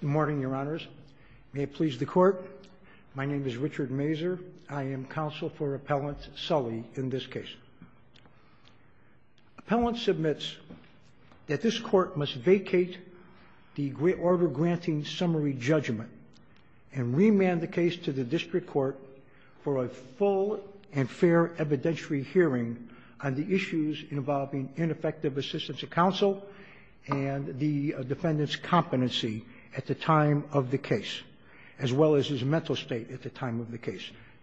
Good morning, your honors. May it please the court. My name is Richard Mazur. I am counsel for Appellant Sully in this case. Appellant submits that this court must vacate the order granting summary judgment and remand the case to the district court for a full and fair evidentiary hearing on the issues involving ineffective assistance to counsel and the defendant's competency in the case.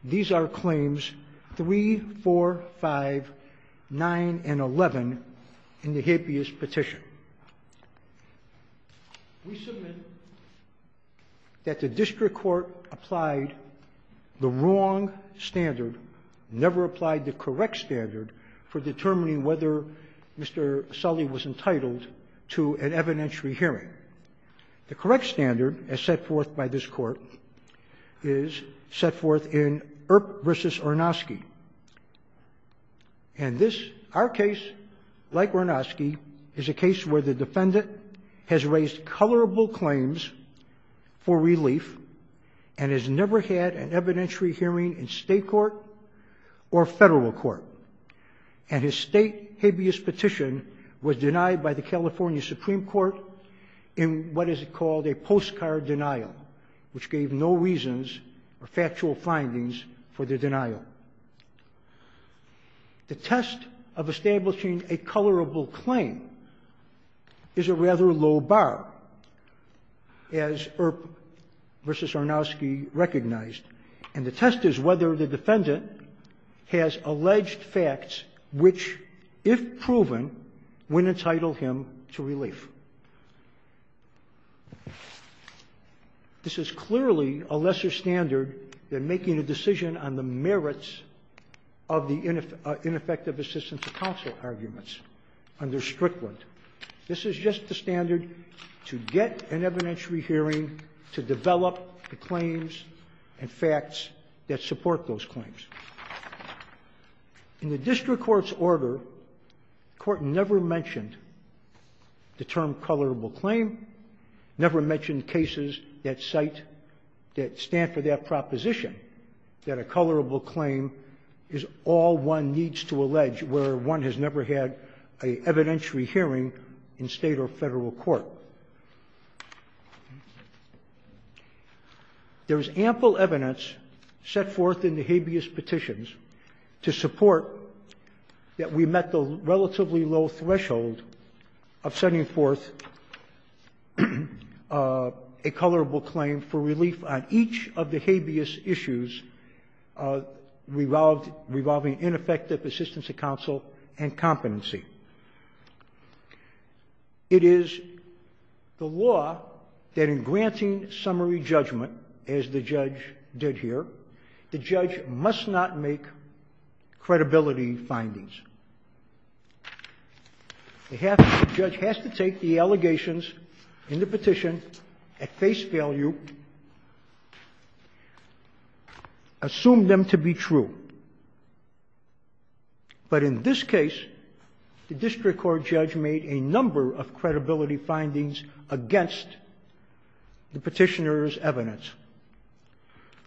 These are claims 3, 4, 5, 9, and 11 in the habeas petition. We submit that the district court applied the wrong standard, never applied the correct standard for determining whether Mr. Sully was entitled to an evidentiary hearing. The correct standard as set forth by this court is set forth in Earp v. Ornosky. And this, our case, like Ornosky, is a case where the defendant has raised colorable claims for relief and has never had an evidentiary hearing in state court or federal court. And his state habeas petition was denied by the California Supreme Court in what is called a postcard denial, which gave no reasons or factual findings for the denial. The test of establishing a colorable claim is a rather low bar, as Earp v. Ornosky recognized. And the test is whether the defendant has alleged facts which, if proven, would entitle him to relief. This is clearly a lesser standard than making a decision on the merits of the ineffective assistance to counsel arguments under Strickland. This is just the standard to get an evidentiary hearing, to develop the claims and facts that support those claims. In the district court's order, the court never mentioned the term colorable claim, never mentioned cases that cite, that stand for that proposition, that a colorable claim is all one needs to allege where one has never had an evidentiary hearing in state or federal court. There is ample evidence set forth in the habeas petitions to support that we met the relatively low threshold of sending forth a colorable claim for relief on each of the habeas issues revolving ineffective assistance to counsel and competency. It is the law that in granting summary judgment, as the judge did here, the judge must not make credibility findings. The judge has to take the allegations in the petition at face value, assume them to be true. But in this case, the district court judge made a number of credibility findings against the petitioner's evidence.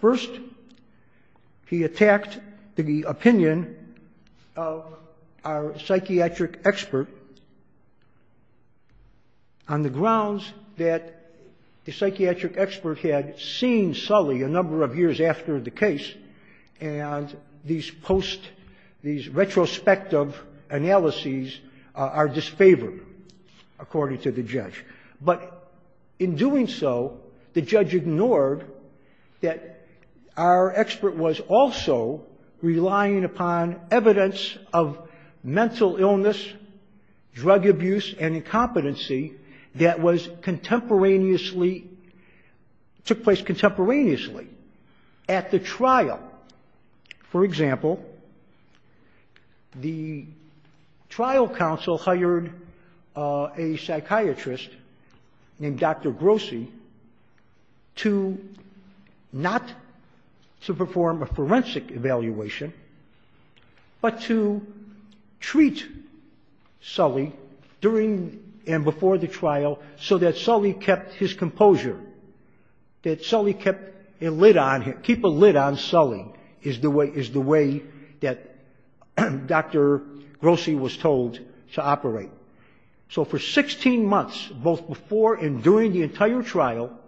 First, he attacked the opinion of our psychiatric expert on the grounds that the psychiatric expert had seen Sully a number of years after the case and these post, these retrospective analyses are disfavored, according to the judge. But in doing so, the judge ignored that our expert was also relying upon evidence of mental illness, drug abuse, and incompetency that was contemporaneously took place contemporaneously at the trial. For example, the trial counsel hired a psychiatrist named Dr. Grossi to not to perform a forensic evaluation, but to treat Sully during and before the trial so that Sully kept his composure, that Sully kept a lid on him, keep a lid on Sully is the way that Dr. Grossi was told to operate. So for 16 months, both before and during the entire trial,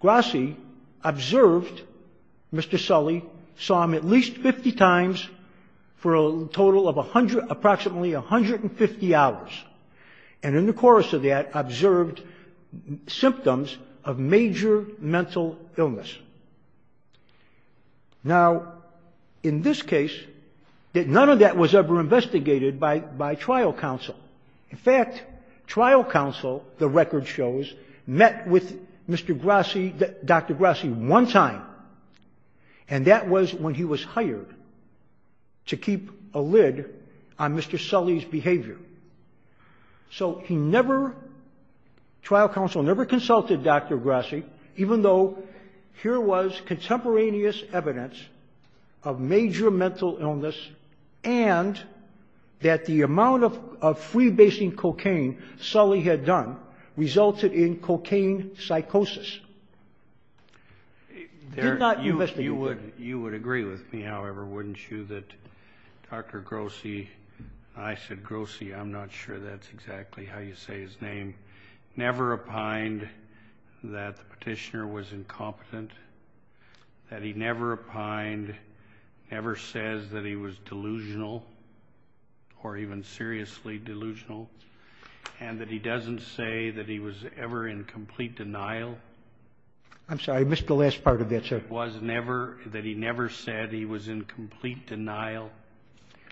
Grossi observed Mr. Sully, saw him at least 50 times for a total of approximately 150 hours, and in the course of that observed symptoms of major mental illness. Now, in this case, none of that was ever investigated by trial counsel. In fact, trial counsel, the record shows, met with Mr. Grossi, Dr. Grossi one time, and that was when he was hired to keep a lid on Mr. Sully's behavior. So he never, trial counsel never consulted Dr. Grossi, even though here was contemporaneous evidence of major mental illness and that the amount of freebasing cocaine Sully had done resulted in cocaine psychosis. He did not investigate it. You would agree with me, however, wouldn't you, that Dr. Grossi, I said Grossi, I'm not sure that's exactly how you say his name, never opined that the petitioner was incompetent, that he never opined, never says that he was delusional or even seriously delusional, and that he doesn't say that he was ever in complete denial? I'm sorry, I missed the last part of that, sir. Was never, that he never said he was in complete denial?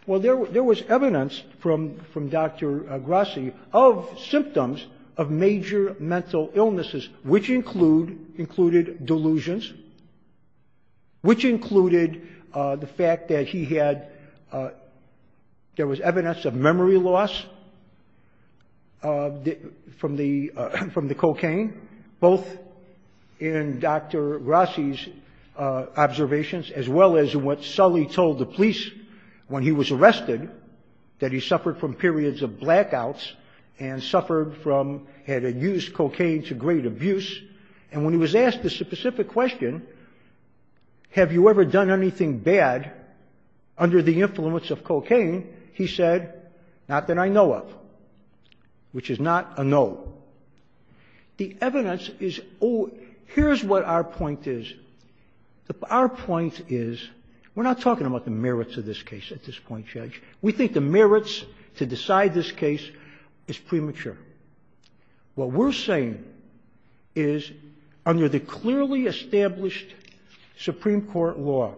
Well, there was evidence from Dr. Grossi of symptoms of major mental illnesses, which include, included delusions, which included the fact that he had, there was evidence of memory loss from the, from the cocaine, both in Dr. Grossi's observations as well as what Sully told the police when he was arrested, that he suffered from periods of blackouts and suffered from, had used cocaine to great abuse, and when he was asked the specific question, have you ever done anything bad under the influence of cocaine, he said, not that I know of, which is not a no. The evidence is, here's what our point is, our point is, we're not talking about the merits of this case at this point, Judge, we think the merits to decide this case is premature. What we're saying is, under the clearly established Supreme Court law,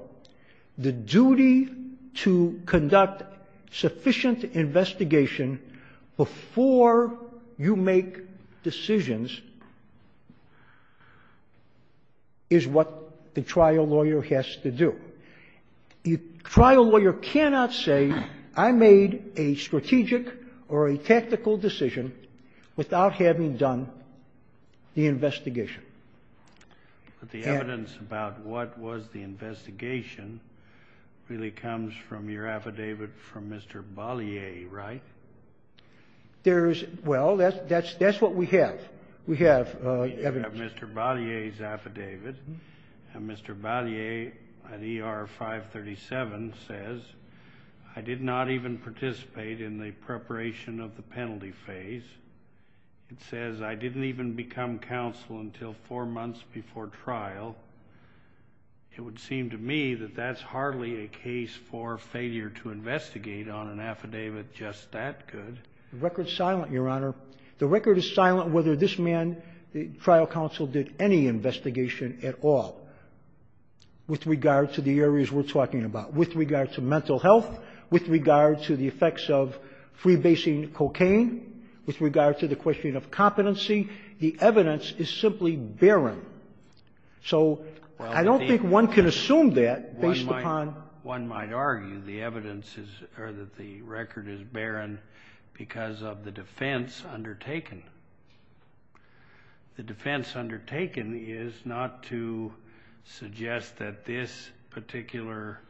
the duty to conduct sufficient investigation before you make decisions is what the trial lawyer has to do. The trial lawyer cannot say, I made a strategic or a tactical decision without having done the investigation. But the evidence about what was the investigation really comes from your affidavit from Mr. Bollier, right? There's, well, that's what we have. We have evidence. We have Mr. Bollier's affidavit, and Mr. Bollier, in ER 537, says, I did not even participate in the preparation of the penalty phase. It says I didn't even become counsel until four months before trial. It would seem to me that that's hardly a case for failure to investigate on an affidavit just that good. The record's silent, Your Honor. The record is silent whether this man, the trial counsel, did any investigation at all with regard to the areas we're talking about, with regard to mental health, with regard to the effects of freebasing cocaine, with regard to the question of competency. The evidence is simply barren. So I don't think one can assume that based upon the evidence. or that the record is barren because of the defense undertaken. The defense undertaken is not to suggest that this particular,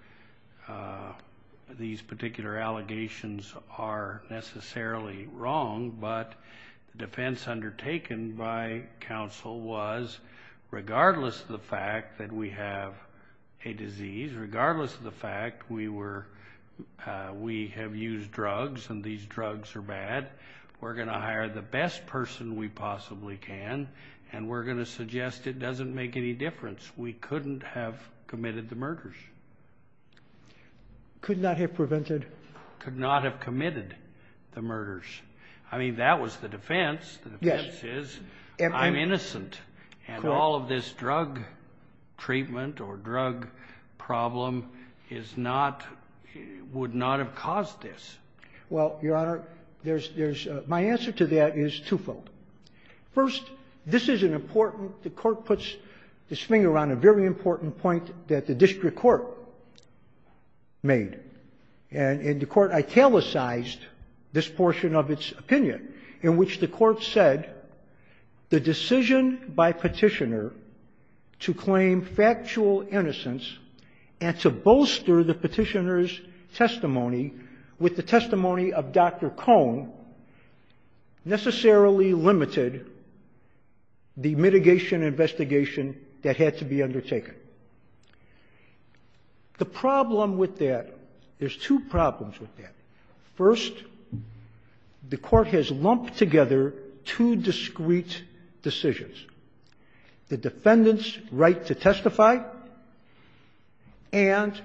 these particular allegations are necessarily wrong, but the defense undertaken by counsel was, regardless of the fact we have used drugs and these drugs are bad, we're going to hire the best person we possibly can, and we're going to suggest it doesn't make any difference. We couldn't have committed the murders. Could not have prevented. Could not have committed the murders. I mean, that was the defense. The defense is, I'm innocent. And all of this drug treatment or drug problem is not, would not have caused this. Well, Your Honor, there's, there's, my answer to that is twofold. First, this is an important, the court puts this finger on a very important point that the district court made. And the court italicized this portion of its opinion in which the court said, the decision by petitioner to claim factual innocence and to bolster the petitioner's testimony with the testimony of Dr. Cohn necessarily limited the mitigation investigation that had to be undertaken. The problem with that, there's two problems with that. First, the court has lumped together two discrete decisions. The defendant's right to testify and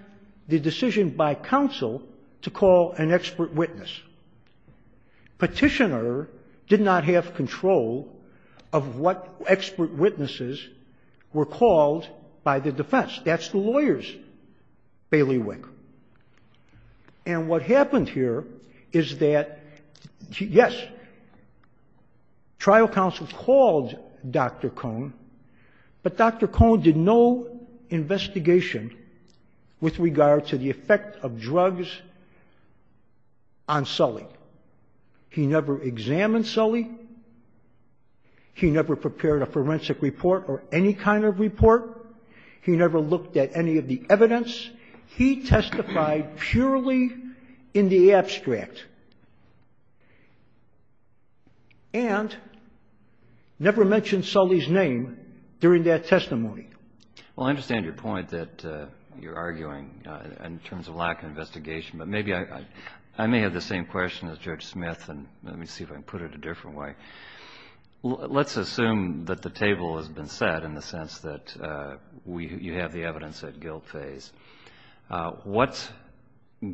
the decision by counsel to call an expert witness. Petitioner did not have control of what expert witnesses were called by the defense. That's the lawyers, Bailey Wink. And what happened here is that yes, trial counsel called Dr. Cohn, but Dr. Cohn did no investigation with regard to the effect of drugs on Sully. He never examined Sully. He never prepared a forensic report or any kind of report. He never looked at any of the evidence. He testified purely in the abstract and never mentioned Sully's name during that testimony. Well, I understand your point that you're arguing in terms of lack of investigation, but maybe I may have the same question as Judge Smith, and let me see if I can put it a different way. Let's assume that the table has been set in the sense that we have the evidence at guilt phase.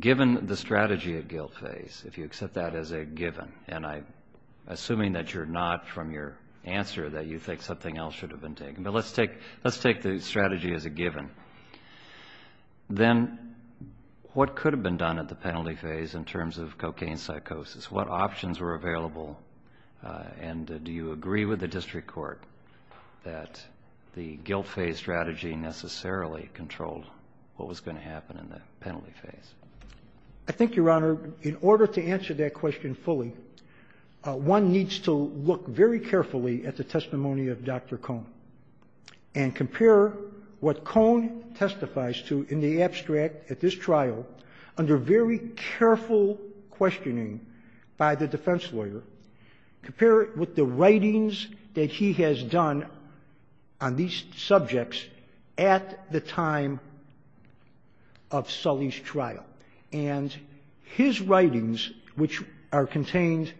Given the strategy at guilt phase, if you accept that as a given, and I'm assuming that you're not from your answer that you think something else should have been taken, but let's take the strategy as a given. Then what could have been done at the penalty phase in terms of cocaine psychosis? What options were available? And do you agree with the district court that the guilt phase strategy necessarily controlled what was going to happen in the penalty phase? I think, Your Honor, in order to answer that question fully, one needs to look very carefully at the testimony of Dr. Cohn and compare what Cohn testifies to in the abstract at this trial under very careful questioning by the defense lawyer, compare it with the writings that he has done on these subjects at the time of Sully's trial. And his writings, which are contained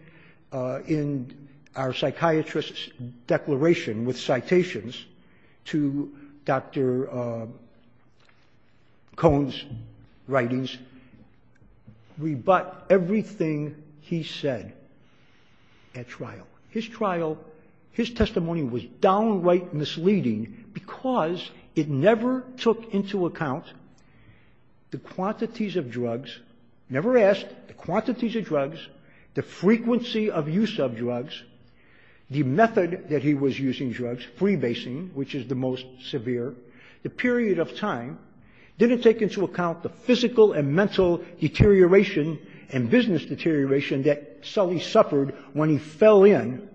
in our psychiatrist's declaration with citations to Dr. Cohn's writings, rebut everything he said at trial. His trial, his testimony was downright misleading because it never took into account the quantities of drugs, never asked the quantities of drugs, the frequency of use of drugs, the method that he was using drugs, freebasing, which is the most severe, the period of time, didn't take into account the physical and mental deterioration and business deterioration that Sully suffered when he fell in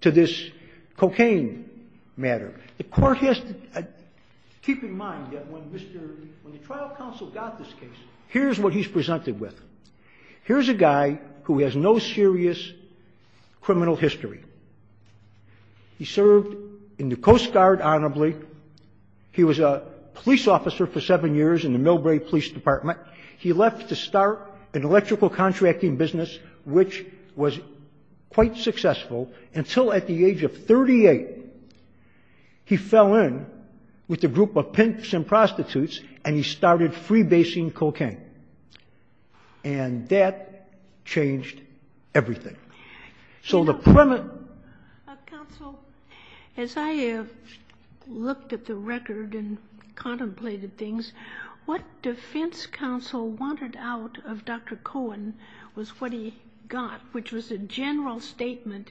to this cocaine matter. The court has to keep in mind that when Mr. — when the trial counsel got this case, here's what he's presented with. Here's a guy who has no serious criminal history. He served in the Coast Guard honorably. He was a police officer for seven years in the Millbrae Police Department. He left to start an electrical contracting business, which was quite successful until at the age of 38, he fell in with a group of pimps and prostitutes and he started freebasing cocaine. And that changed everything. So the — Counsel, as I have looked at the record and contemplated things, what defense counsel wanted out of Dr. Cohen was what he got, which was a general statement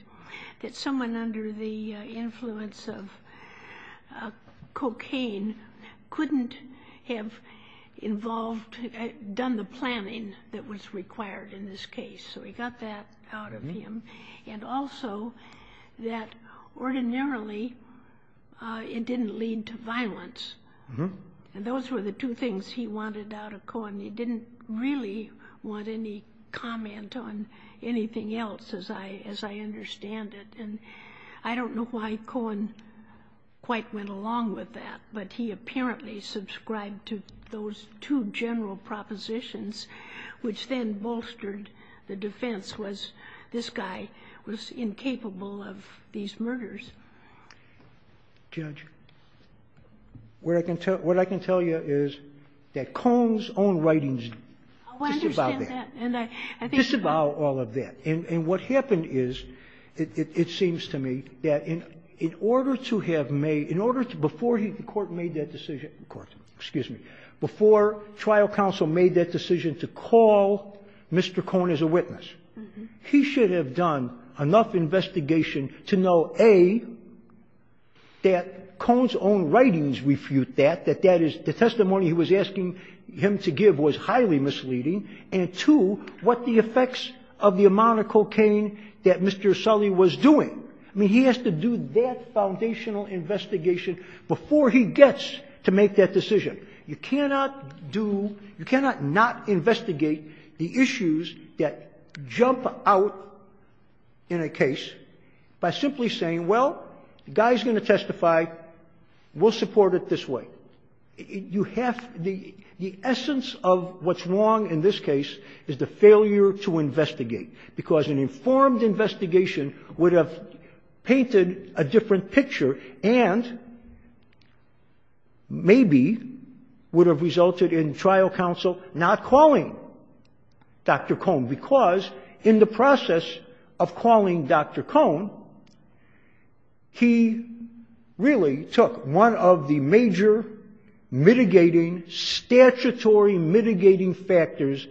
that someone under the influence of cocaine couldn't have involved — done the planning that was required in this case. So he got that out of him. And also that ordinarily it didn't lead to violence. And those were the two things he wanted out of Cohen. He didn't really want any comment on anything else as I understand it. And I don't know why Cohen quite went along with that, but he apparently subscribed to those two general propositions, which then bolstered the defense was this guy was incapable of these murders. Judge, what I can tell you is that Cohen's own writings — I understand that. — disavow all of that. And what happened is, it seems to me, that in order to have made — in order to — before he — the Court made that decision — excuse me — before trial counsel made that decision to call Mr. Cohen as a witness, he should have done enough investigation to know, A, that Cohen's own writings refute that, that that is — the testimony he was asking him to give was highly misleading, and, two, what the effects of the amount of cocaine that Mr. Sully was doing. I mean, he has to do that foundational investigation before he gets to make that decision. You cannot do — you cannot not investigate the issues that jump out in a case by simply saying, well, the guy's going to testify. We'll support it this way. You have — the essence of what's wrong in this case is the informed investigation would have painted a different picture and maybe would have resulted in trial counsel not calling Dr. Cohen, because in the process of calling Dr. Cohen, he really took one of the major mitigating, statutory mitigating factors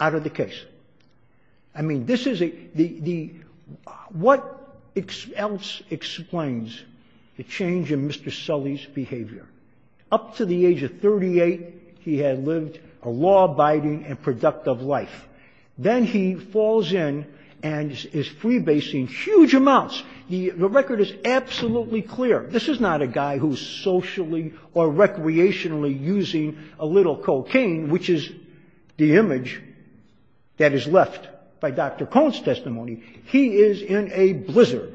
out of the case. I mean, this is a — the — what else explains the change in Mr. Sully's behavior? Up to the age of 38, he had lived a law-abiding and productive life. Then he falls in and is freebasing huge amounts. The record is absolutely clear. This is not a guy who's socially or recreationally using a little cocaine, which is the image that is left by Dr. Cohen's testimony. He is in a blizzard.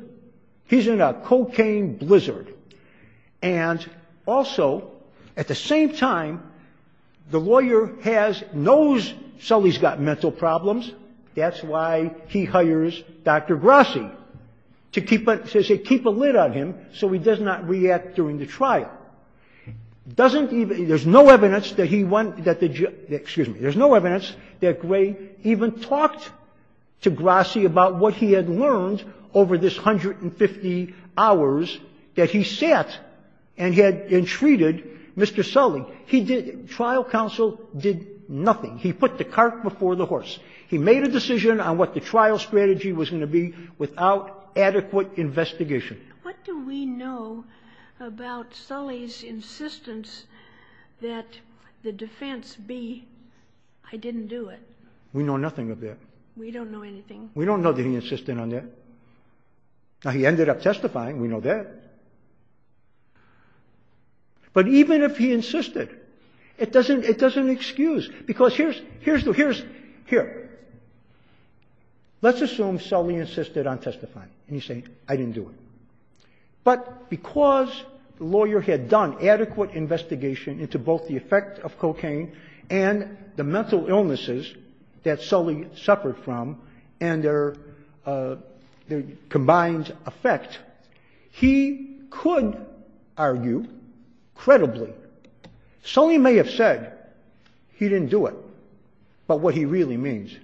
He's in a cocaine blizzard. And also, at the same time, the lawyer has — knows Sully's got mental problems. That's why he hires Dr. Grassi to keep — to keep a lid on him so he does not react during the trial. Doesn't even — there's no evidence that he won — that the — excuse me. There's no evidence that Gray even talked to Grassi about what he had learned over this 150 hours that he sat and had entreated Mr. Sully. He did — trial counsel did nothing. He put the cart before the horse. He made a decision on what the trial strategy was going to be without adequate investigation. What do we know about Sully's insistence that the defense be, I didn't do it? We know nothing of that. We don't know anything. We don't know that he insisted on that. Now, he ended up testifying. We know that. But even if he insisted, it doesn't — it doesn't excuse. Because here's — here's the — here's — But because the lawyer had done adequate investigation into both the effect of cocaine and the mental illnesses that Sully suffered from and their — their combined effect, he could argue, credibly, Sully may have said he didn't do it. But what he really means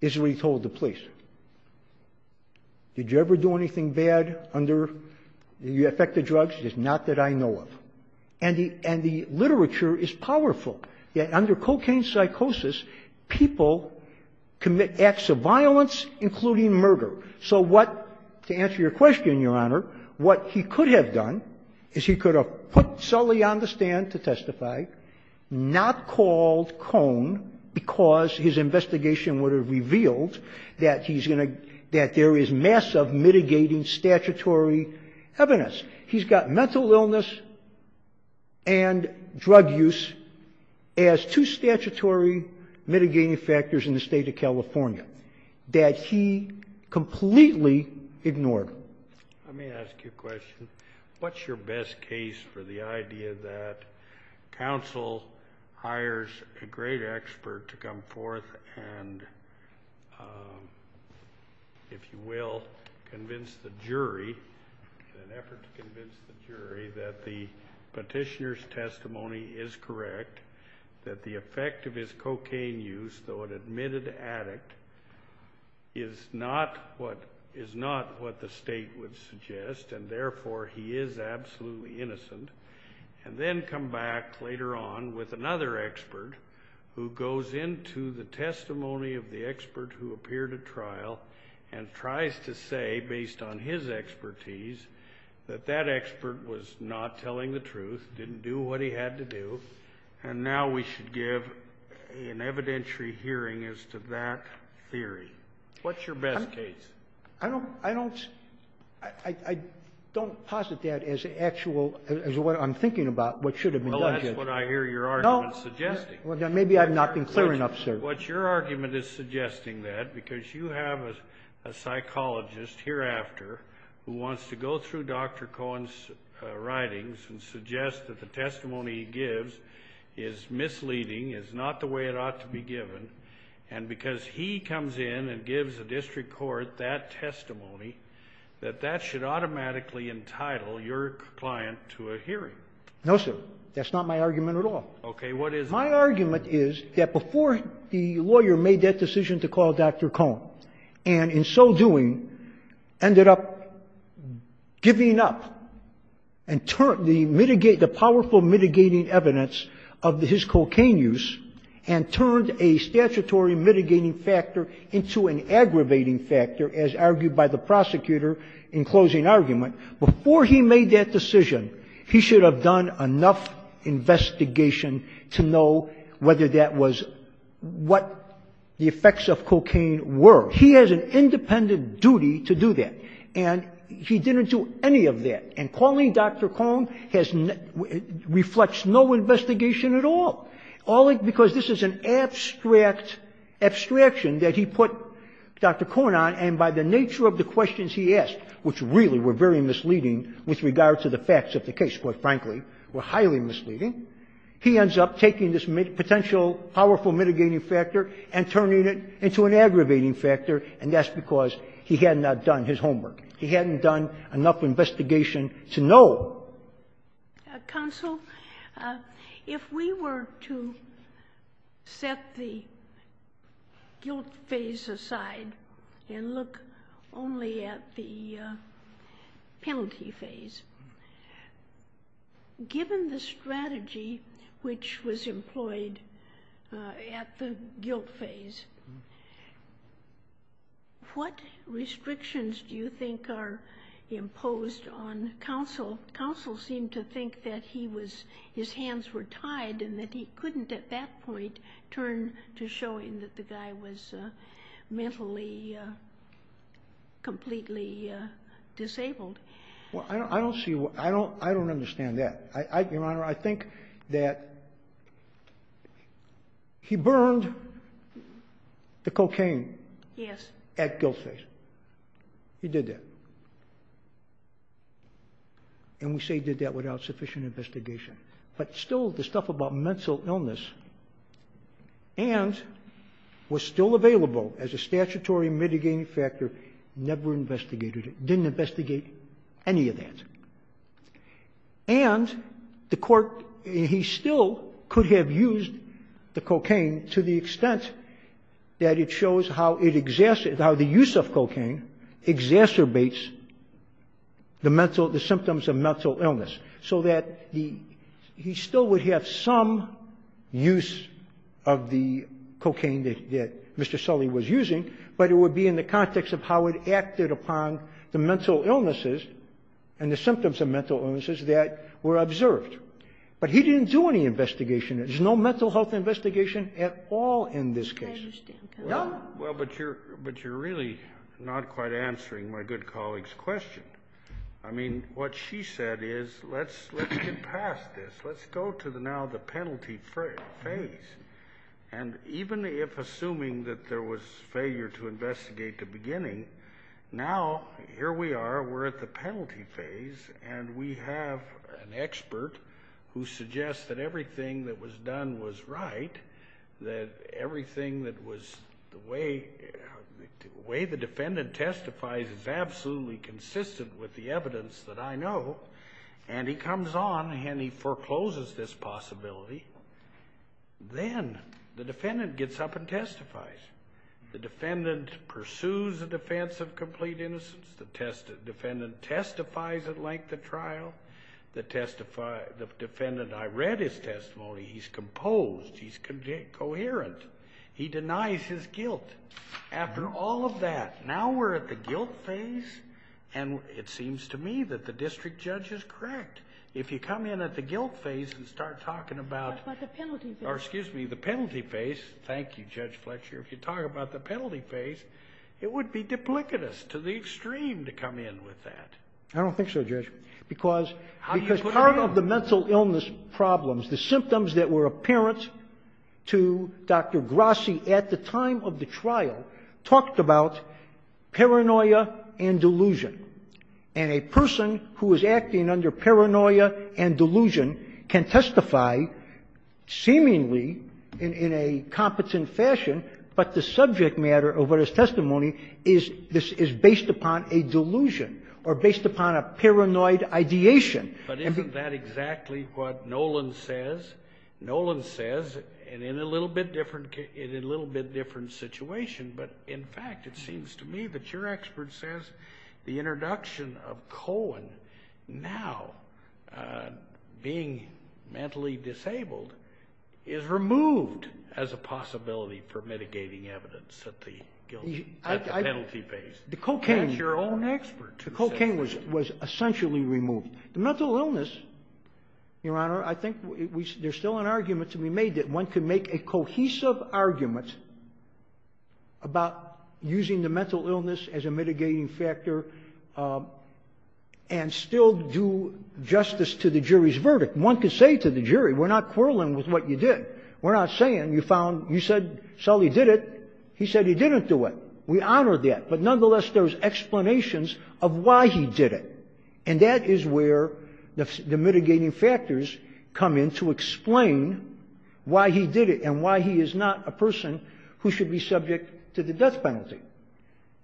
is what he told the police. Did you ever do anything bad under the effect of drugs? It's not that I know of. And the — and the literature is powerful, that under cocaine psychosis, people commit acts of violence, including murder. So what — to answer your question, Your Honor, what he could have done is he could have put Sully on the stand to testify, not called Cone, because his investigation would have revealed that he's going to — that there is massive mitigating statutory evidence. He's got mental illness and drug use as two statutory mitigating factors in the state of California that he completely ignored. Let me ask you a question. What's your best case for the idea that counsel hires a great expert to come forth and, if you will, convince the jury, in an effort to convince the jury, that the petitioner's testimony is correct, that the effect of his cocaine use, though an admitted addict, is not what — is not what the state would suggest, and therefore he is absolutely innocent, and then come back later on with another expert who goes into the testimony of the expert who appeared at trial and tries to say, based on his expertise, that that expert was not telling the truth, didn't do what he had to do, and now we should give an evidentiary hearing as to that theory? What's your best case? I don't — I don't — I don't posit that as actual — as what I'm thinking about, what should have been done. Well, that's what I hear your argument suggesting. Well, then maybe I've not been clear enough, sir. What your argument is suggesting that, because you have a psychologist hereafter who wants to go through Dr. Cohen's writings and suggest that the testimony he gives is misleading, is not the way it ought to be given, and because he comes in and gives the district court that testimony, that that should automatically entitle your client to a hearing? No, sir. That's not my argument at all. Okay. What is it? My argument is that before the lawyer made that decision to call Dr. Cohen, and in so doing ended up giving up and turned the — mitigate — the powerful mitigating evidence of his cocaine use and turned a statutory mitigating factor into an aggravating factor, as argued by the prosecutor in closing argument. Before he made that decision, he should have done enough investigation to know whether that was — what the effects of cocaine were. He has an independent duty to do that, and he didn't do any of that. And calling Dr. Cohen has — reflects no investigation at all. All it — because this is an abstract abstraction that he put Dr. Cohen on, and by the nature of the questions he asked, which really were very misleading with regard to the facts of the case, quite frankly, were highly misleading, he ends up taking this potential powerful mitigating factor and turning it into an aggravating factor, and that's because he had not done his homework. He hadn't done enough investigation to know. Counsel, if we were to set the guilt phase aside and look only at the penalty phase, given the strategy which was employed at the guilt phase, what restrictions do you think are imposed on counsel? Counsel seemed to think that he was — his hands were tied and that he couldn't at that point turn to showing that the guy was mentally completely disabled. Well, I don't see — I don't understand that. Your Honor, I think that he burned the cocaine at guilt phase. He did that. And we say he did that without sufficient investigation. But still, the stuff about mental illness and was still available as a statutory mitigating factor, never investigated it, didn't investigate any of that. And the court — he still could have used the cocaine to the extent that it shows how it — how the use of cocaine exacerbates the mental — the symptoms of mental illness, so that the — he still would have some use of the cocaine that Mr. Sully was using, but it would be in the context of how it acted upon the mental illnesses and the symptoms of mental illnesses that were observed. But he didn't do any investigation. There's no mental health investigation at all in this case. I understand. No. Well, but you're really not quite answering my good colleague's question. I mean, what she said is, let's get past this. Let's go to now the penalty phase. And even if assuming that there was failure to investigate the beginning, now here we are. We're at the penalty phase. And we have an expert who suggests that everything that was done was right, that everything that was — the way the defendant testifies is absolutely consistent with the evidence that I know. And he comes on and he forecloses this possibility. Then the defendant gets up and testifies. The defendant pursues a defense of complete innocence. The defendant testifies at length at trial. The defendant — I read his testimony. He's composed. He's coherent. He denies his guilt. After all of that, now we're at the guilt phase, and it seems to me that the district judge is correct. If you come in at the guilt phase and start talking about — But the penalty phase. Thank you, Judge Fletcher. If you talk about the penalty phase, it would be duplicitous to the extreme to come in with that. I don't think so, Judge, because part of the mental illness problems, the symptoms that were apparent to Dr. Grassi at the time of the trial, talked about paranoia and delusion. And a person who is acting under paranoia and delusion can testify seemingly in a competent fashion, but the subject matter of what his testimony is, this is based upon a delusion or based upon a paranoid ideation. But isn't that exactly what Nolan says? Nolan says, and in a little bit different — in a little bit different situation, but in fact it seems to me that your expert says the introduction of Cohen now being mentally disabled is removed as a possibility for mitigating evidence at the penalty phase. That's your own expert. The cocaine was essentially removed. The mental illness, Your Honor, I think there's still an argument to be made that one can make a cohesive argument about using the mental illness as a mitigating factor and still do justice to the jury's verdict. One could say to the jury, we're not quarreling with what you did. We're not saying you found — you said Sully did it. He said he didn't do it. We honor that. But nonetheless, there's explanations of why he did it. And that is where the mitigating factors come in to explain why he did it and why he is not a person who should be subject to the death penalty.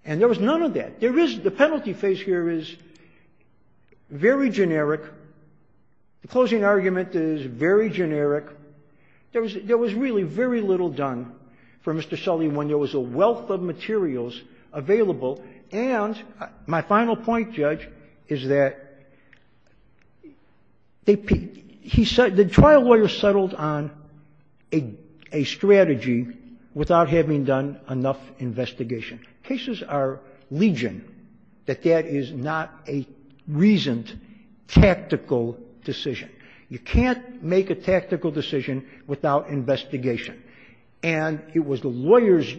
And there was none of that. There is — the penalty phase here is very generic. The closing argument is very generic. There was really very little done for Mr. Sully when there was a wealth of materials available. And my final point, Judge, is that the trial lawyer settled on a strategy without having done enough investigation. Cases are legion that that is not a reasoned tactical decision. You can't make a tactical decision without investigation. And it was the lawyers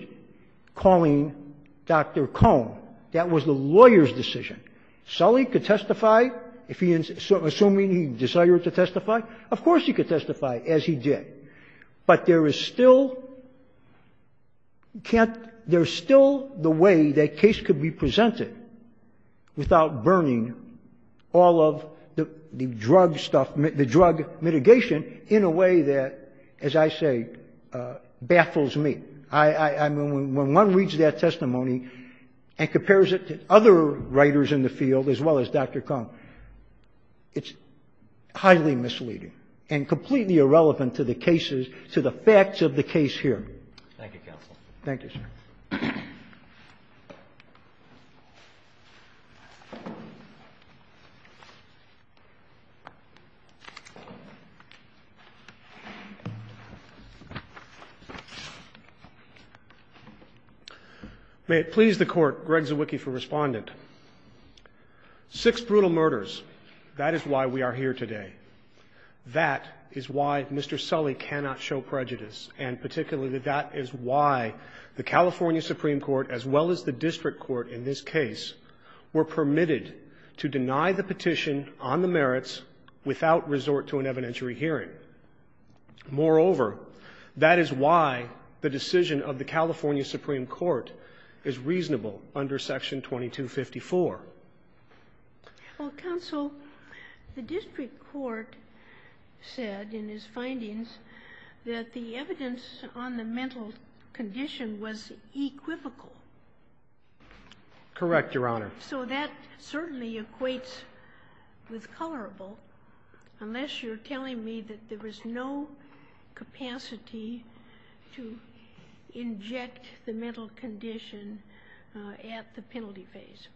calling Dr. Cohn. That was the lawyer's decision. Sully could testify if he — assuming he desired to testify. Of course he could testify, as he did. But there is still — can't — there's still the way that case could be presented without burning all of the drug stuff, the drug mitigation, in a way that, as I say, baffles me. I mean, when one reads that testimony and compares it to other writers in the field, as well as Dr. Cohn, it's highly misleading and completely irrelevant to the cases — to the facts of the case here. Thank you, Counsel. Thank you, sir. May it please the Court, Greg Zewicki for Respondent. Six brutal murders. That is why we are here today. That is why Mr. Sully cannot show prejudice. And particularly, that is why the California Supreme Court, as well as the district court in this case, were permitted to deny the petition on the merits without resort to an evidentiary hearing. Moreover, that is why the decision of the California Supreme Court is reasonable under Section 2254. Well, Counsel, the district court said in its findings that the evidence on the mental condition was equivocal. Correct, Your Honor. So that certainly equates with colorable, unless you're telling me that there was no capacity to inject the mental condition at the penalty phase.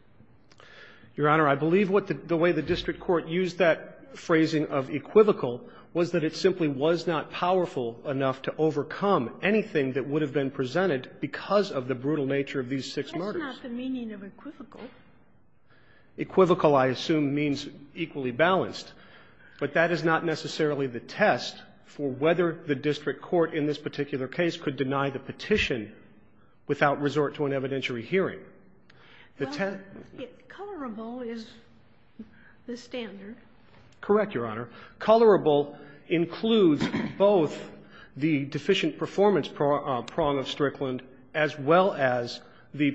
Your Honor, I believe what the — the way the district court used that phrasing of equivocal was that it simply was not powerful enough to overcome anything that would have been presented because of the brutal nature of these six murders. That's not the meaning of equivocal. Equivocal, I assume, means equally balanced. But that is not necessarily the test for whether the district court in this particular case could deny the petition without resort to an evidentiary hearing. Colorable is the standard. Correct, Your Honor. Colorable includes both the deficient performance prong of Strickland, as well as the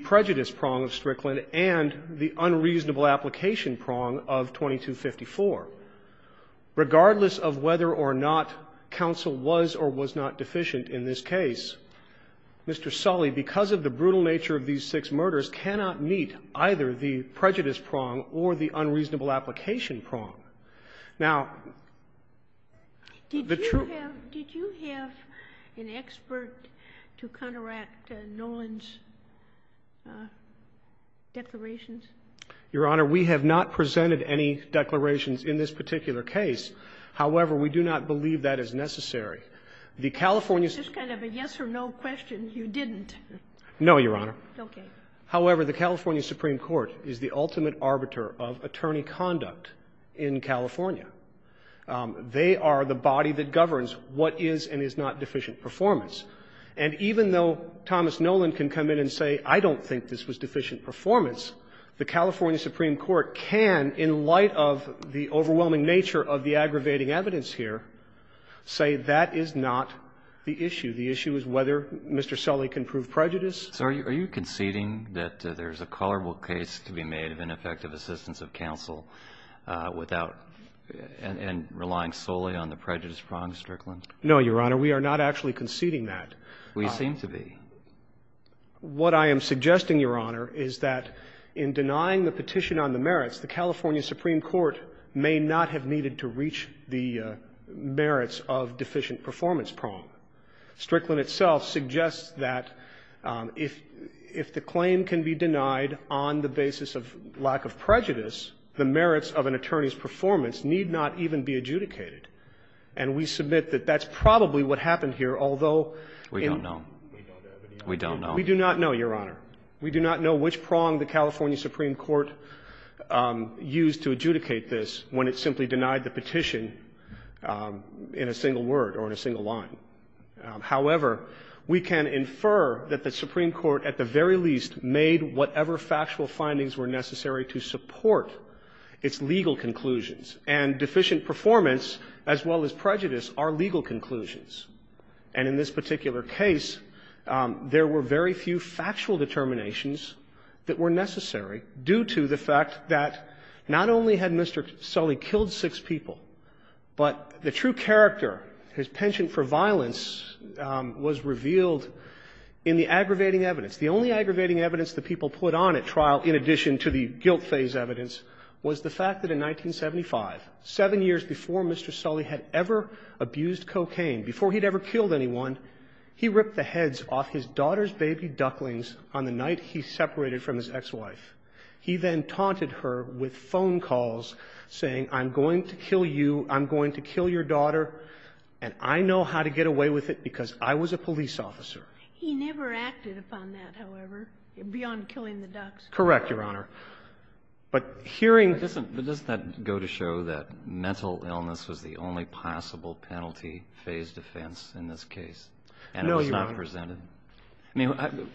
regardless of whether or not Counsel was or was not deficient in this case. Mr. Sully, because of the brutal nature of these six murders, cannot meet either the prejudice prong or the unreasonable application prong. Now, the true — Did you have — did you have an expert to counteract Nolan's declarations? Your Honor, we have not presented any declarations in this particular case. However, we do not believe that is necessary. The California — It's just kind of a yes or no question. You didn't. No, Your Honor. Okay. However, the California Supreme Court is the ultimate arbiter of attorney conduct in California. They are the body that governs what is and is not deficient performance. And even though Thomas Nolan can come in and say, I don't think this was deficient performance, the California Supreme Court can, in light of the overwhelming nature of the aggravating evidence here, say that is not the issue. The issue is whether Mr. Sully can prove prejudice. So are you conceding that there's a culpable case to be made of ineffective assistance of counsel without — and relying solely on the prejudice prong of Strickland? No, Your Honor. We are not actually conceding that. We seem to be. What I am suggesting, Your Honor, is that in denying the petition on the merits, the California Supreme Court may not have needed to reach the merits of deficient performance prong. Strickland itself suggests that if — if the claim can be denied on the basis of lack of prejudice, the merits of an attorney's performance need not even be adjudicated. And we submit that that's probably what happened here, although — We don't know. We don't know. We do not know, Your Honor. We do not know which prong the California Supreme Court used to adjudicate this when it simply denied the petition in a single word or in a single line. However, we can infer that the Supreme Court at the very least made whatever factual findings were necessary to support its legal conclusions. And deficient performance, as well as prejudice, are legal conclusions. And in this particular case, there were very few factual determinations that were necessary due to the fact that not only had Mr. Sully killed six people, but the true character, his penchant for violence, was revealed in the aggravating evidence. The only aggravating evidence that people put on at trial, in addition to the guilt phase evidence, was the fact that in 1975, 7 years before Mr. Sully had ever abused cocaine, before he had ever killed anyone, he ripped the heads off his daughter's baby ducklings on the night he separated from his ex-wife. He then taunted her with phone calls saying, I'm going to kill you, I'm going to kill your daughter, and I know how to get away with it because I was a police officer. He never acted upon that, however, beyond killing the ducks. Correct, Your Honor. But hearing — But doesn't that go to show that mental illness was the only possible penalty phase defense in this case? No, Your Honor. And it was not presented? I mean,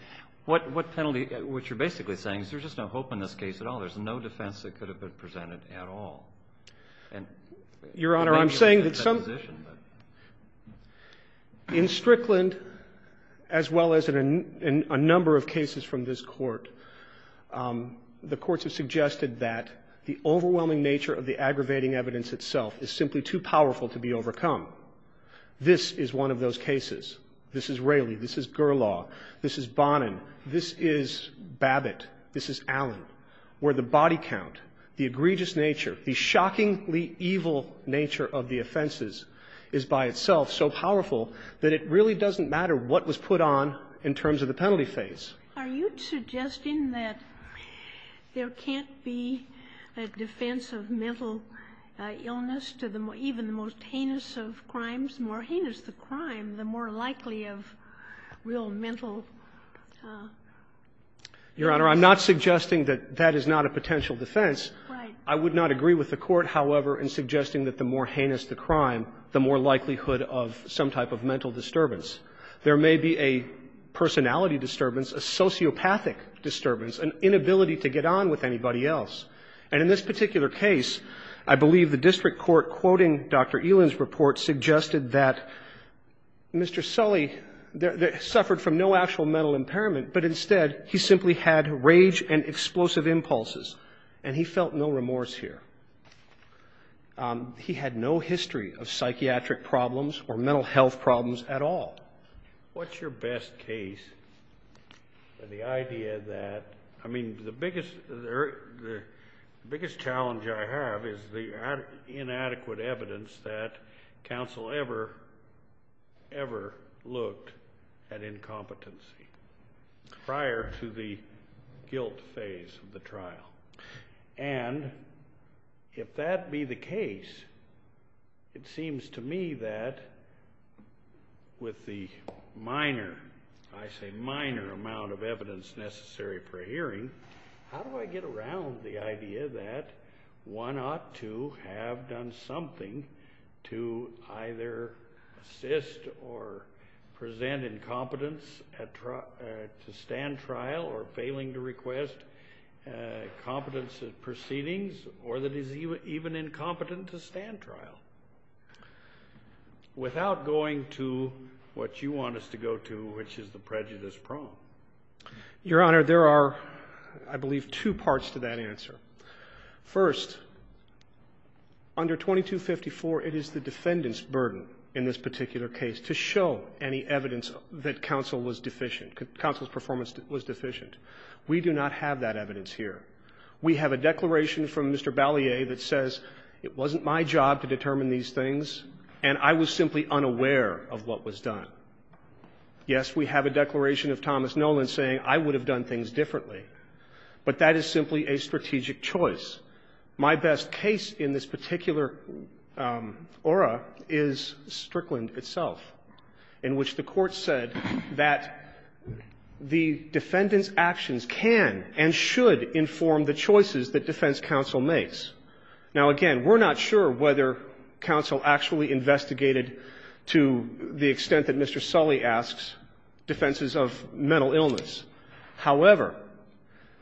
what penalty — what you're basically saying is there's just no hope in this case at all. There's no defense that could have been presented at all. Your Honor, I'm saying that some — In Strickland, as well as in a number of cases from this court, the courts have found that the overwhelming nature of the aggravating evidence itself is simply too powerful to be overcome. This is one of those cases. This is Raley. This is Gerlaw. This is Bonin. This is Babbitt. This is Allen, where the body count, the egregious nature, the shockingly evil nature of the offenses is by itself so powerful that it really doesn't matter what was put on in terms of the penalty phase. Are you suggesting that there can't be a defense of mental illness to the — even the most heinous of crimes? The more heinous the crime, the more likely of real mental — Your Honor, I'm not suggesting that that is not a potential defense. Right. I would not agree with the Court, however, in suggesting that the more heinous the crime, the more likelihood of some type of mental disturbance. There may be a personality disturbance, a sociopathic disturbance, an inability to get on with anybody else. And in this particular case, I believe the district court quoting Dr. Elin's report suggested that Mr. Sully suffered from no actual mental impairment, but instead he simply had rage and explosive impulses, and he felt no remorse here. He had no history of psychiatric problems or mental health problems at all. What's your best case for the idea that — I mean, the biggest challenge I have is the inadequate evidence that counsel ever, ever looked at incompetency prior to the guilt phase of the trial. And if that be the case, it seems to me that with the minor, I say minor, amount of evidence necessary for hearing, how do I get around the idea that one ought to have done something to either assist or present incompetence to stand trial or failing to request competence at proceedings, or that is even incompetent to stand trial, without going to what you want us to go to, which is the prejudice prong? Your Honor, there are, I believe, two parts to that answer. First, under 2254, it is the defendant's burden in this particular case to show any evidence that counsel was deficient, counsel's performance was deficient. We do not have that evidence here. We have a declaration from Mr. Balliet that says it wasn't my job to determine these things, and I was simply unaware of what was done. Yes, we have a declaration of Thomas Nolan saying I would have done things differently, but that is simply a strategic choice. My best case in this particular aura is Strickland itself. In which the Court said that the defendant's actions can and should inform the choices that defense counsel makes. Now, again, we're not sure whether counsel actually investigated to the extent that Mr. Sully asks defenses of mental illness. However,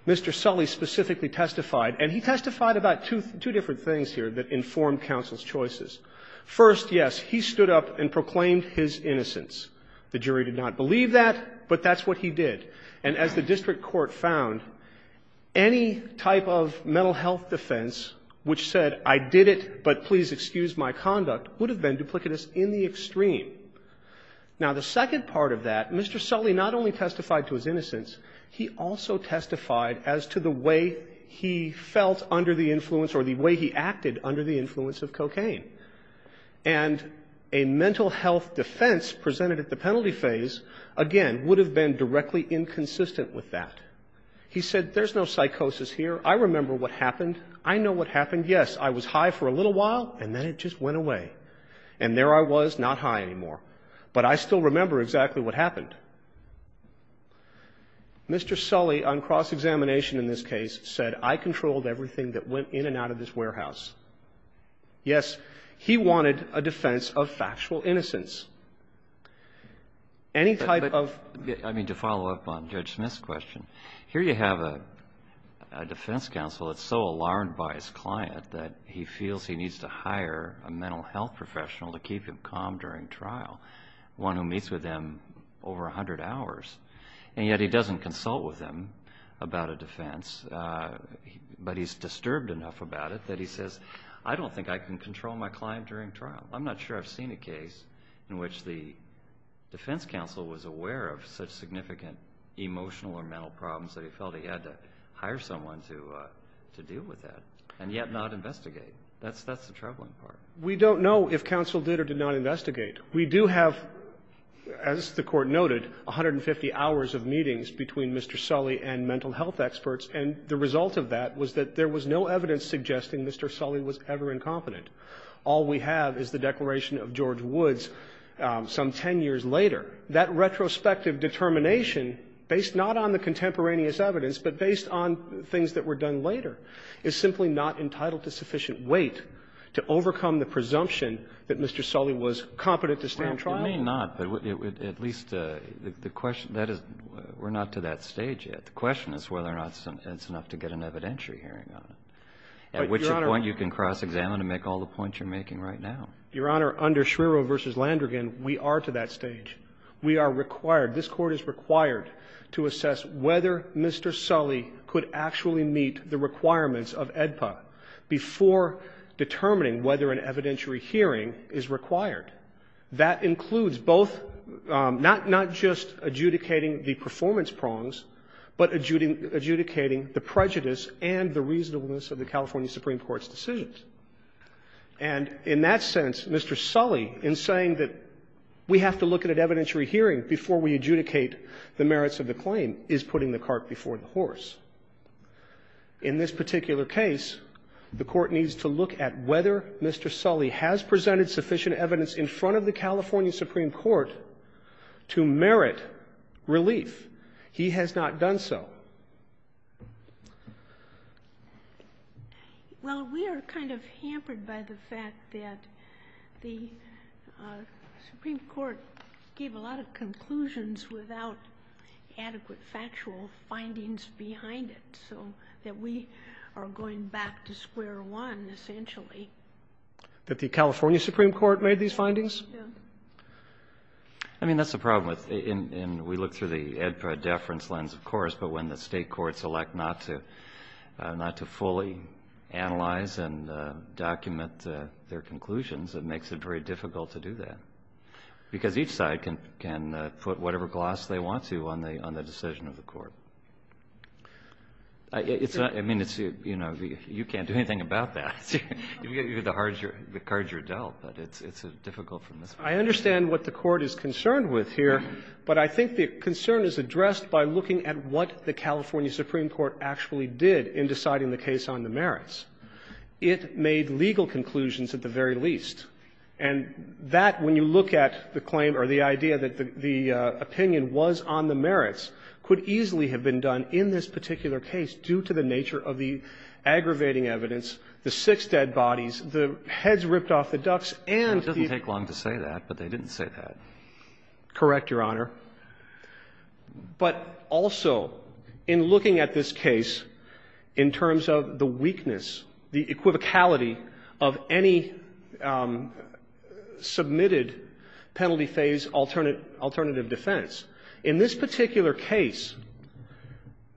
Mr. Sully specifically testified, and he testified about two different things here that informed counsel's choices. First, yes, he stood up and proclaimed his innocence. The jury did not believe that, but that's what he did. And as the district court found, any type of mental health defense which said I did it, but please excuse my conduct, would have been duplicitous in the extreme. Now, the second part of that, Mr. Sully not only testified to his innocence, he also testified as to the way he felt under the influence or the way he acted under the influence of cocaine. And a mental health defense presented at the penalty phase, again, would have been directly inconsistent with that. He said there's no psychosis here. I remember what happened. I know what happened. Yes, I was high for a little while, and then it just went away. And there I was, not high anymore. But I still remember exactly what happened. Mr. Sully on cross-examination in this case said I controlled everything that went in and out of this warehouse. Yes, he wanted a defense of factual innocence. Any type of ---- But, I mean, to follow up on Judge Smith's question, here you have a defense counsel that's so alarmed by his client that he feels he needs to hire a mental health professional to keep him calm during trial, one who meets with him over a hundred hours, and yet he doesn't consult with him about a defense, but he's disturbed enough about it that he says, I don't think I can control my client during trial. I'm not sure I've seen a case in which the defense counsel was aware of such significant emotional or mental problems that he felt he had to hire someone to deal with that, and yet not investigate. That's the troubling part. We don't know if counsel did or did not investigate. We do have, as the Court noted, 150 hours of meetings between Mr. Sully and mental health experts, and the result of that was that there was no evidence suggesting Mr. Sully was ever incompetent. All we have is the declaration of George Woods some 10 years later. That retrospective determination, based not on the contemporaneous evidence, but based on things that were done later, is simply not entitled to sufficient weight to overcome the presumption that Mr. Sully was competent to stand trial. Well, it may not, but at least the question that is we're not to that stage yet. The question is whether or not it's enough to get an evidentiary hearing on it. At which point you can cross-examine and make all the points you're making right now. Your Honor, under Schmiro v. Landrigan, we are to that stage. We are required, this Court is required, to assess whether Mr. Sully could actually meet the requirements of AEDPA before determining whether an evidentiary hearing is required. That includes both, not just adjudicating the performance prongs, but adjudicating the prejudice and the reasonableness of the California Supreme Court's decisions. And in that sense, Mr. Sully, in saying that we have to look at an evidentiary hearing before we adjudicate the merits of the claim, is putting the cart before the horse. In this particular case, the Court needs to look at whether Mr. Sully has presented sufficient evidence in front of the California Supreme Court to merit relief. He has not done so. Well, we are kind of hampered by the fact that the Supreme Court gave a lot of conclusions without adequate factual findings behind it, so that we are going back to square one, essentially. That the California Supreme Court made these findings? Yes. I mean, that's the problem. And we look through the AEDPA deference lens, of course, but when the State courts elect not to fully analyze and document their conclusions, it makes it very difficult to do that, because each side can put whatever gloss they want to on the decision of the Court. I mean, it's, you know, you can't do anything about that. You get the cards are dealt, but it's difficult from this point of view. I understand what the Court is concerned with here, but I think the concern is addressed by looking at what the California Supreme Court actually did in deciding the case on the merits. It made legal conclusions, at the very least. And that, when you look at the claim or the idea that the opinion was on the merits, could easily have been done in this particular case due to the nature of the aggravating evidence, the six dead bodies, the heads ripped off the ducks, and the ---- It doesn't take long to say that, but they didn't say that. Correct, Your Honor. But also, in looking at this case, in terms of the weakness, the equivocality of any submitted penalty phase alternative defense, in this particular case,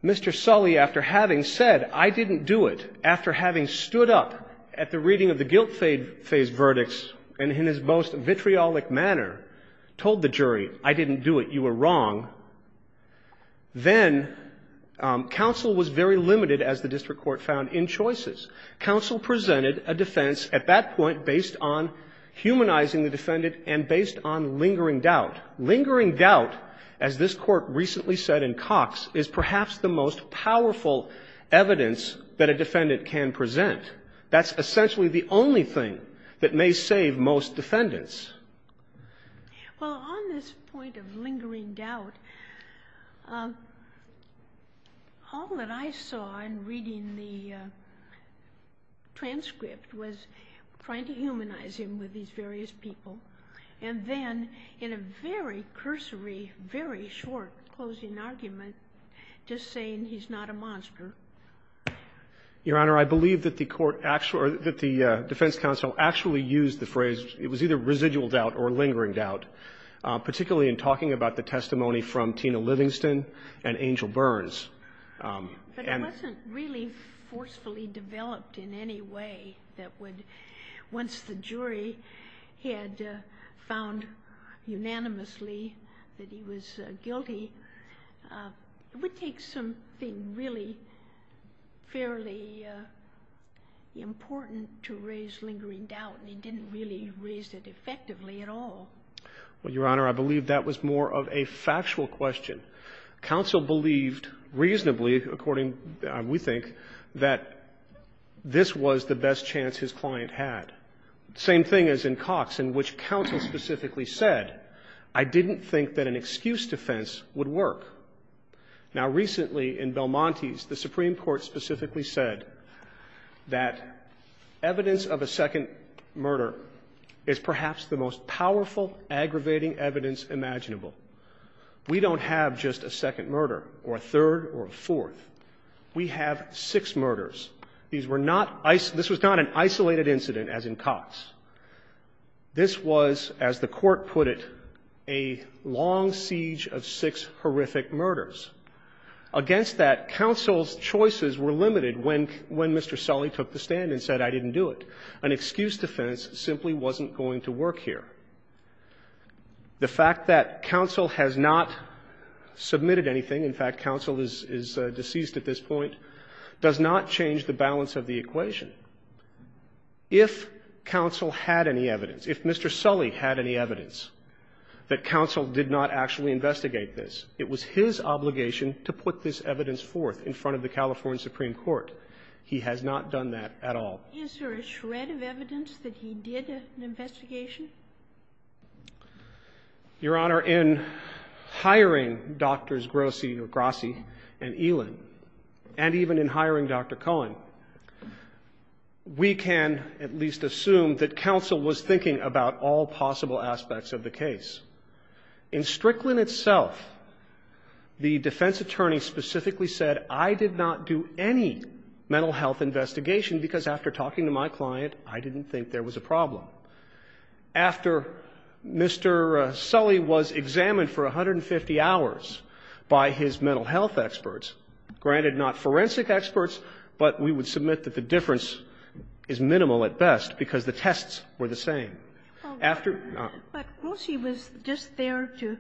Mr. Sully, after having said, I didn't do it, after having stood up at the reading of the guilt phase verdicts and in his most vitriolic manner told the jury, I didn't do it, you were wrong, then counsel was very limited, as the district court found, in choices. Counsel presented a defense at that point based on humanizing the defendant and based on lingering doubt. But lingering doubt, as this Court recently said in Cox, is perhaps the most powerful evidence that a defendant can present. That's essentially the only thing that may save most defendants. Well, on this point of lingering doubt, all that I saw in reading the transcript was trying to humanize him with these various people, and then in a very cursory, very short closing argument, just saying he's not a monster. Your Honor, I believe that the court actually or that the defense counsel actually used the phrase, it was either residual doubt or lingering doubt, particularly in talking about the testimony from Tina Livingston and Angel Burns. But it wasn't really forcefully developed in any way that would, once the jury had found unanimously that he was guilty, it would take something really fairly important to raise lingering doubt, and he didn't really raise it effectively at all. Well, Your Honor, I believe that was more of a factual question. Counsel believed reasonably, according, we think, that this was the best chance his client had. Same thing as in Cox, in which counsel specifically said, I didn't think that an excuse defense would work. Now, recently in Belmontes, the Supreme Court specifically said that evidence of a second murder is perhaps the most powerful, aggravating evidence imaginable. We don't have just a second murder or a third or a fourth. We have six murders. These were not isolated. This was not an isolated incident as in Cox. This was, as the Court put it, a long siege of six horrific murders. Against that, counsel's choices were limited when Mr. Sully took the stand and said, I didn't do it. An excuse defense simply wasn't going to work here. The fact that counsel has not submitted anything, in fact, counsel is deceased at this point, does not change the balance of the equation. If counsel had any evidence, if Mr. Sully had any evidence that counsel did not actually investigate this, it was his obligation to put this evidence forth in front of the California Supreme Court. He has not done that at all. Is there a shred of evidence that he did an investigation? Your Honor, in hiring Drs. Grossi and Elin, and even in hiring Dr. Cohen, we can at least assume that counsel was thinking about all possible aspects of the case. In Strickland itself, the defense attorney specifically said, I did not do any mental health investigation, because after talking to my client, I didn't think there was a problem. After Mr. Sully was examined for 150 hours by his mental health experts, granted not forensic experts, but we would submit that the difference is minimal at best because the tests were the same. After he was just there to,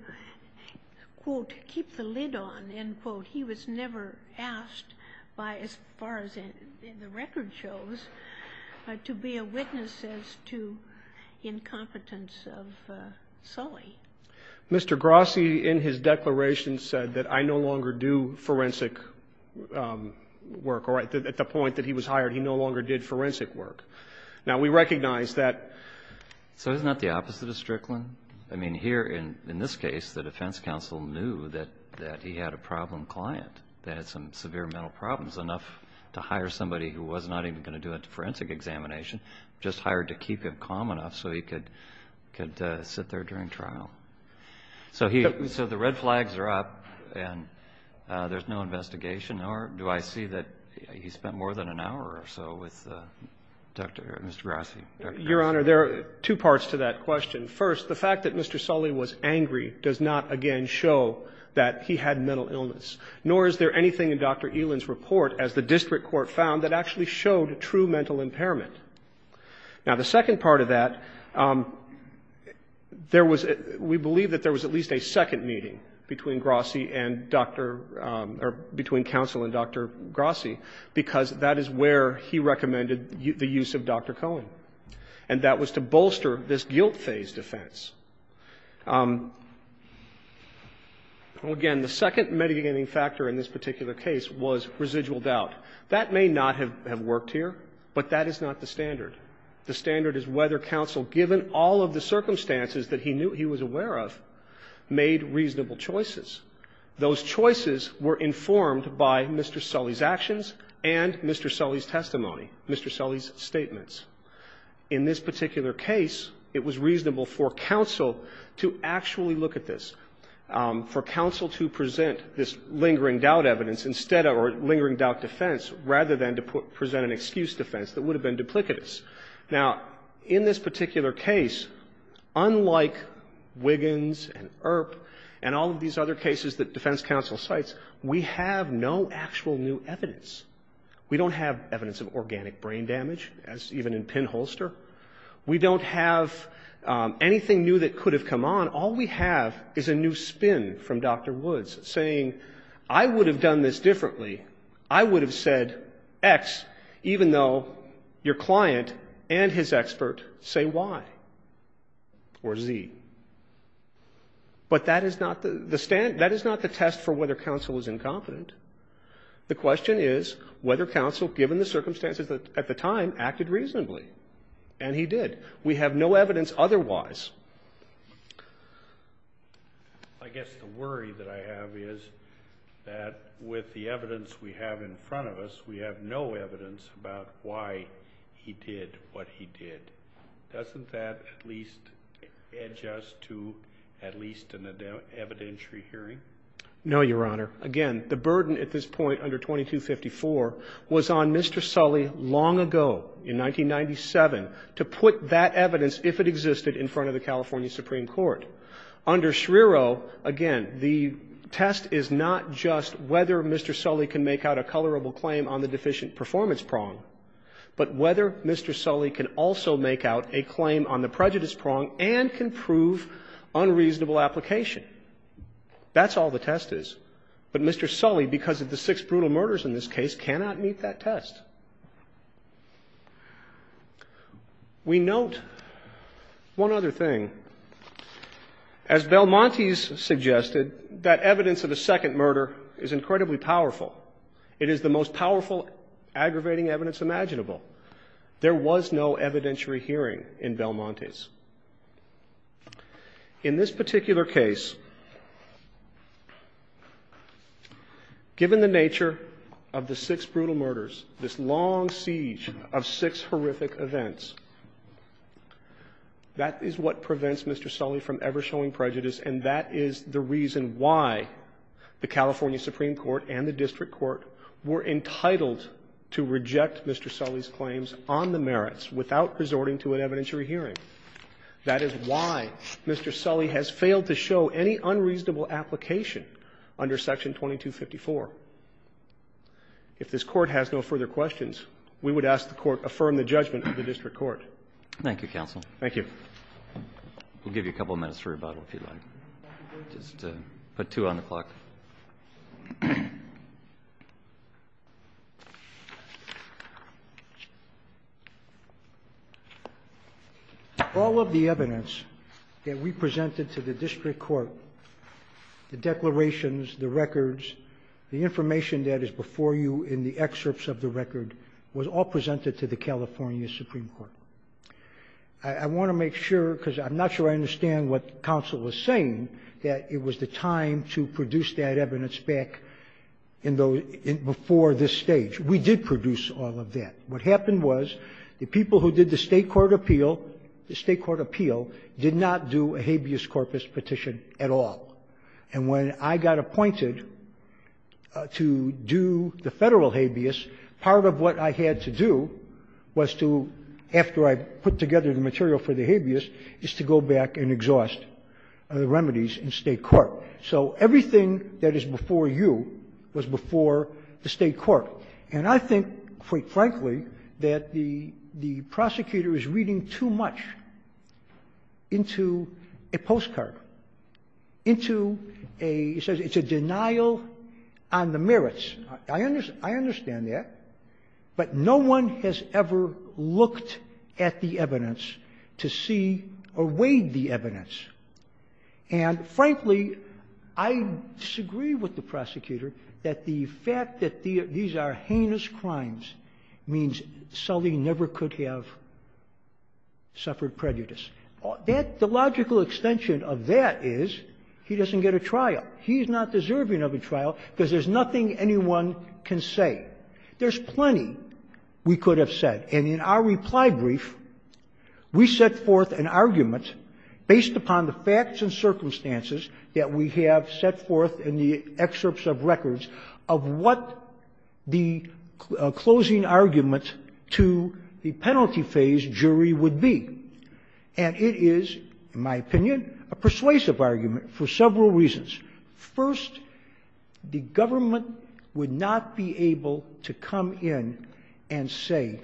quote, keep the lid on, end quote, he was never asked by, as far as the record shows, to be a witness as to incompetence of Sully. Mr. Grossi, in his declaration, said that I no longer do forensic work. At the point that he was hired, he no longer did forensic work. Now, we recognize that. So isn't that the opposite of Strickland? I mean, here in this case, the defense counsel knew that he had a problem client that had some severe mental problems enough to hire somebody who was not even going to do a forensic examination, just hired to keep him calm enough so he could sit there during trial. So the red flags are up, and there's no investigation, nor do I see that he spent more than an hour or so with Mr. Grossi. Your Honor, there are two parts to that question. First, the fact that Mr. Sully was angry does not, again, show that he had mental illness, nor is there anything in Dr. Elan's report, as the district court found, that actually showed true mental impairment. Now, the second part of that, there was, we believe that there was at least a second meeting between Grossi and Dr. or between counsel and Dr. Grossi, because that is where he recommended the use of Dr. Cohen, and that was to bolster this guilt-phase defense. Again, the second mitigating factor in this particular case was residual doubt. That may not have worked here, but that is not the standard. The standard is whether counsel, given all of the circumstances that he knew he was aware of, made reasonable choices. Those choices were informed by Mr. Sully's actions and Mr. Sully's testimony, Mr. Sully's statements. In this particular case, it was reasonable for counsel to actually look at this, for counsel to present this lingering doubt evidence instead of, or lingering doubt defense, rather than to present an excuse defense that would have been duplicitous. Now, in this particular case, unlike Wiggins and Earp and all of these other cases that defense counsel cites, we have no actual new evidence. We don't have evidence of organic brain damage, even in pinholster. We don't have anything new that could have come on. All we have is a new spin from Dr. Woods, saying, I would have done this differently. I would have said X, even though your client and his expert say Y or Z. But that is not the test for whether counsel was incompetent. The question is whether counsel, given the circumstances at the time, acted reasonably. And he did. We have no evidence otherwise. I guess the worry that I have is that with the evidence we have in front of us, we have no evidence about why he did what he did. Doesn't that at least edge us to at least an evidentiary hearing? No, Your Honor. Again, the burden at this point under 2254 was on Mr. Sully long ago in 1997 to put that evidence, if it existed, in front of the California Supreme Court. Under Schriero, again, the test is not just whether Mr. Sully can make out a colorable claim on the deficient performance prong, but whether Mr. Sully can also make out a claim on the prejudice prong and can prove unreasonable application. That's all the test is. But Mr. Sully, because of the six brutal murders in this case, cannot meet that test. We note one other thing. As Belmontes suggested, that evidence of a second murder is incredibly powerful. It is the most powerful aggravating evidence imaginable. There was no evidentiary hearing in Belmontes. In this particular case, given the nature of the six brutal murders, this long siege of six horrific events, that is what prevents Mr. Sully from ever showing prejudice and that is the reason why the California Supreme Court and the district court were entitled to reject Mr. Sully's claims on the merits without resorting to an evidentiary hearing. That is why Mr. Sully has failed to show any unreasonable application under Section 2254. If this Court has no further questions, we would ask the Court affirm the judgment of the district court. Thank you, counsel. Thank you. We'll give you a couple of minutes for rebuttal, if you like. Just put two on the clock. All of the evidence that we presented to the district court, the declarations, the records, the information that is before you in the excerpts of the record, was all presented to the California Supreme Court. I want to make sure, because I'm not sure I understand what counsel was saying, to produce that evidence back before this stage. We did produce all of that. What happened was the people who did the State court appeal, the State court appeal did not do a habeas corpus petition at all. And when I got appointed to do the Federal habeas, part of what I had to do was to, after I put together the material for the habeas, is to go back and exhaust the remedies in State court. So everything that is before you was before the State court. And I think, quite frankly, that the prosecutor is reading too much into a postcard, into a – he says it's a denial on the merits. I understand that. But no one has ever looked at the evidence to see or weighed the evidence. And frankly, I disagree with the prosecutor that the fact that these are heinous crimes means Sully never could have suffered prejudice. The logical extension of that is he doesn't get a trial. He's not deserving of a trial because there's nothing anyone can say. There's plenty we could have said. And in our reply brief, we set forth an argument based upon the facts and circumstances that we have set forth in the excerpts of records of what the closing argument to the penalty phase jury would be. And it is, in my opinion, a persuasive argument for several reasons. First, the government would not be able to come in and say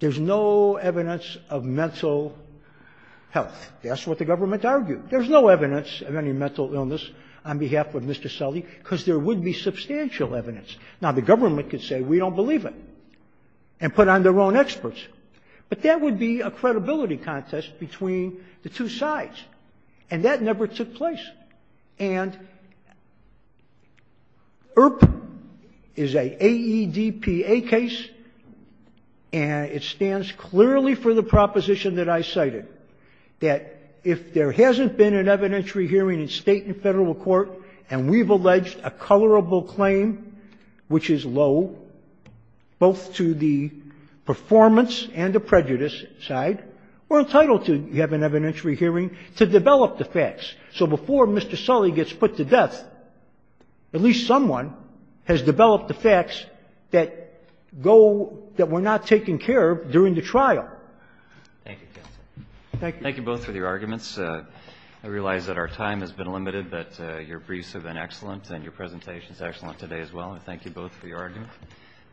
there's no evidence of mental health. That's what the government argued. There's no evidence of any mental illness on behalf of Mr. Sully because there would be substantial evidence. Now, the government could say we don't believe it and put on their own experts. But that would be a credibility contest between the two sides. And that never took place. And IRP is a AEDPA case, and it stands clearly for the proposition that I cited, that if there hasn't been an evidentiary hearing in State and Federal court and we've alleged a colorable claim, which is low, both to the performance and the prejudice side, we're entitled to have an evidentiary hearing to develop the facts. So before Mr. Sully gets put to death, at least someone has developed the facts that go that were not taken care of during the trial. Thank you, counsel. Thank you. Thank you both for your arguments. I realize that our time has been limited, but your briefs have been excellent and your presentation is excellent today as well. And thank you both for your argument.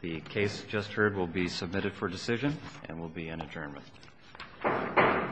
The case just heard will be submitted for decision and will be in adjournment.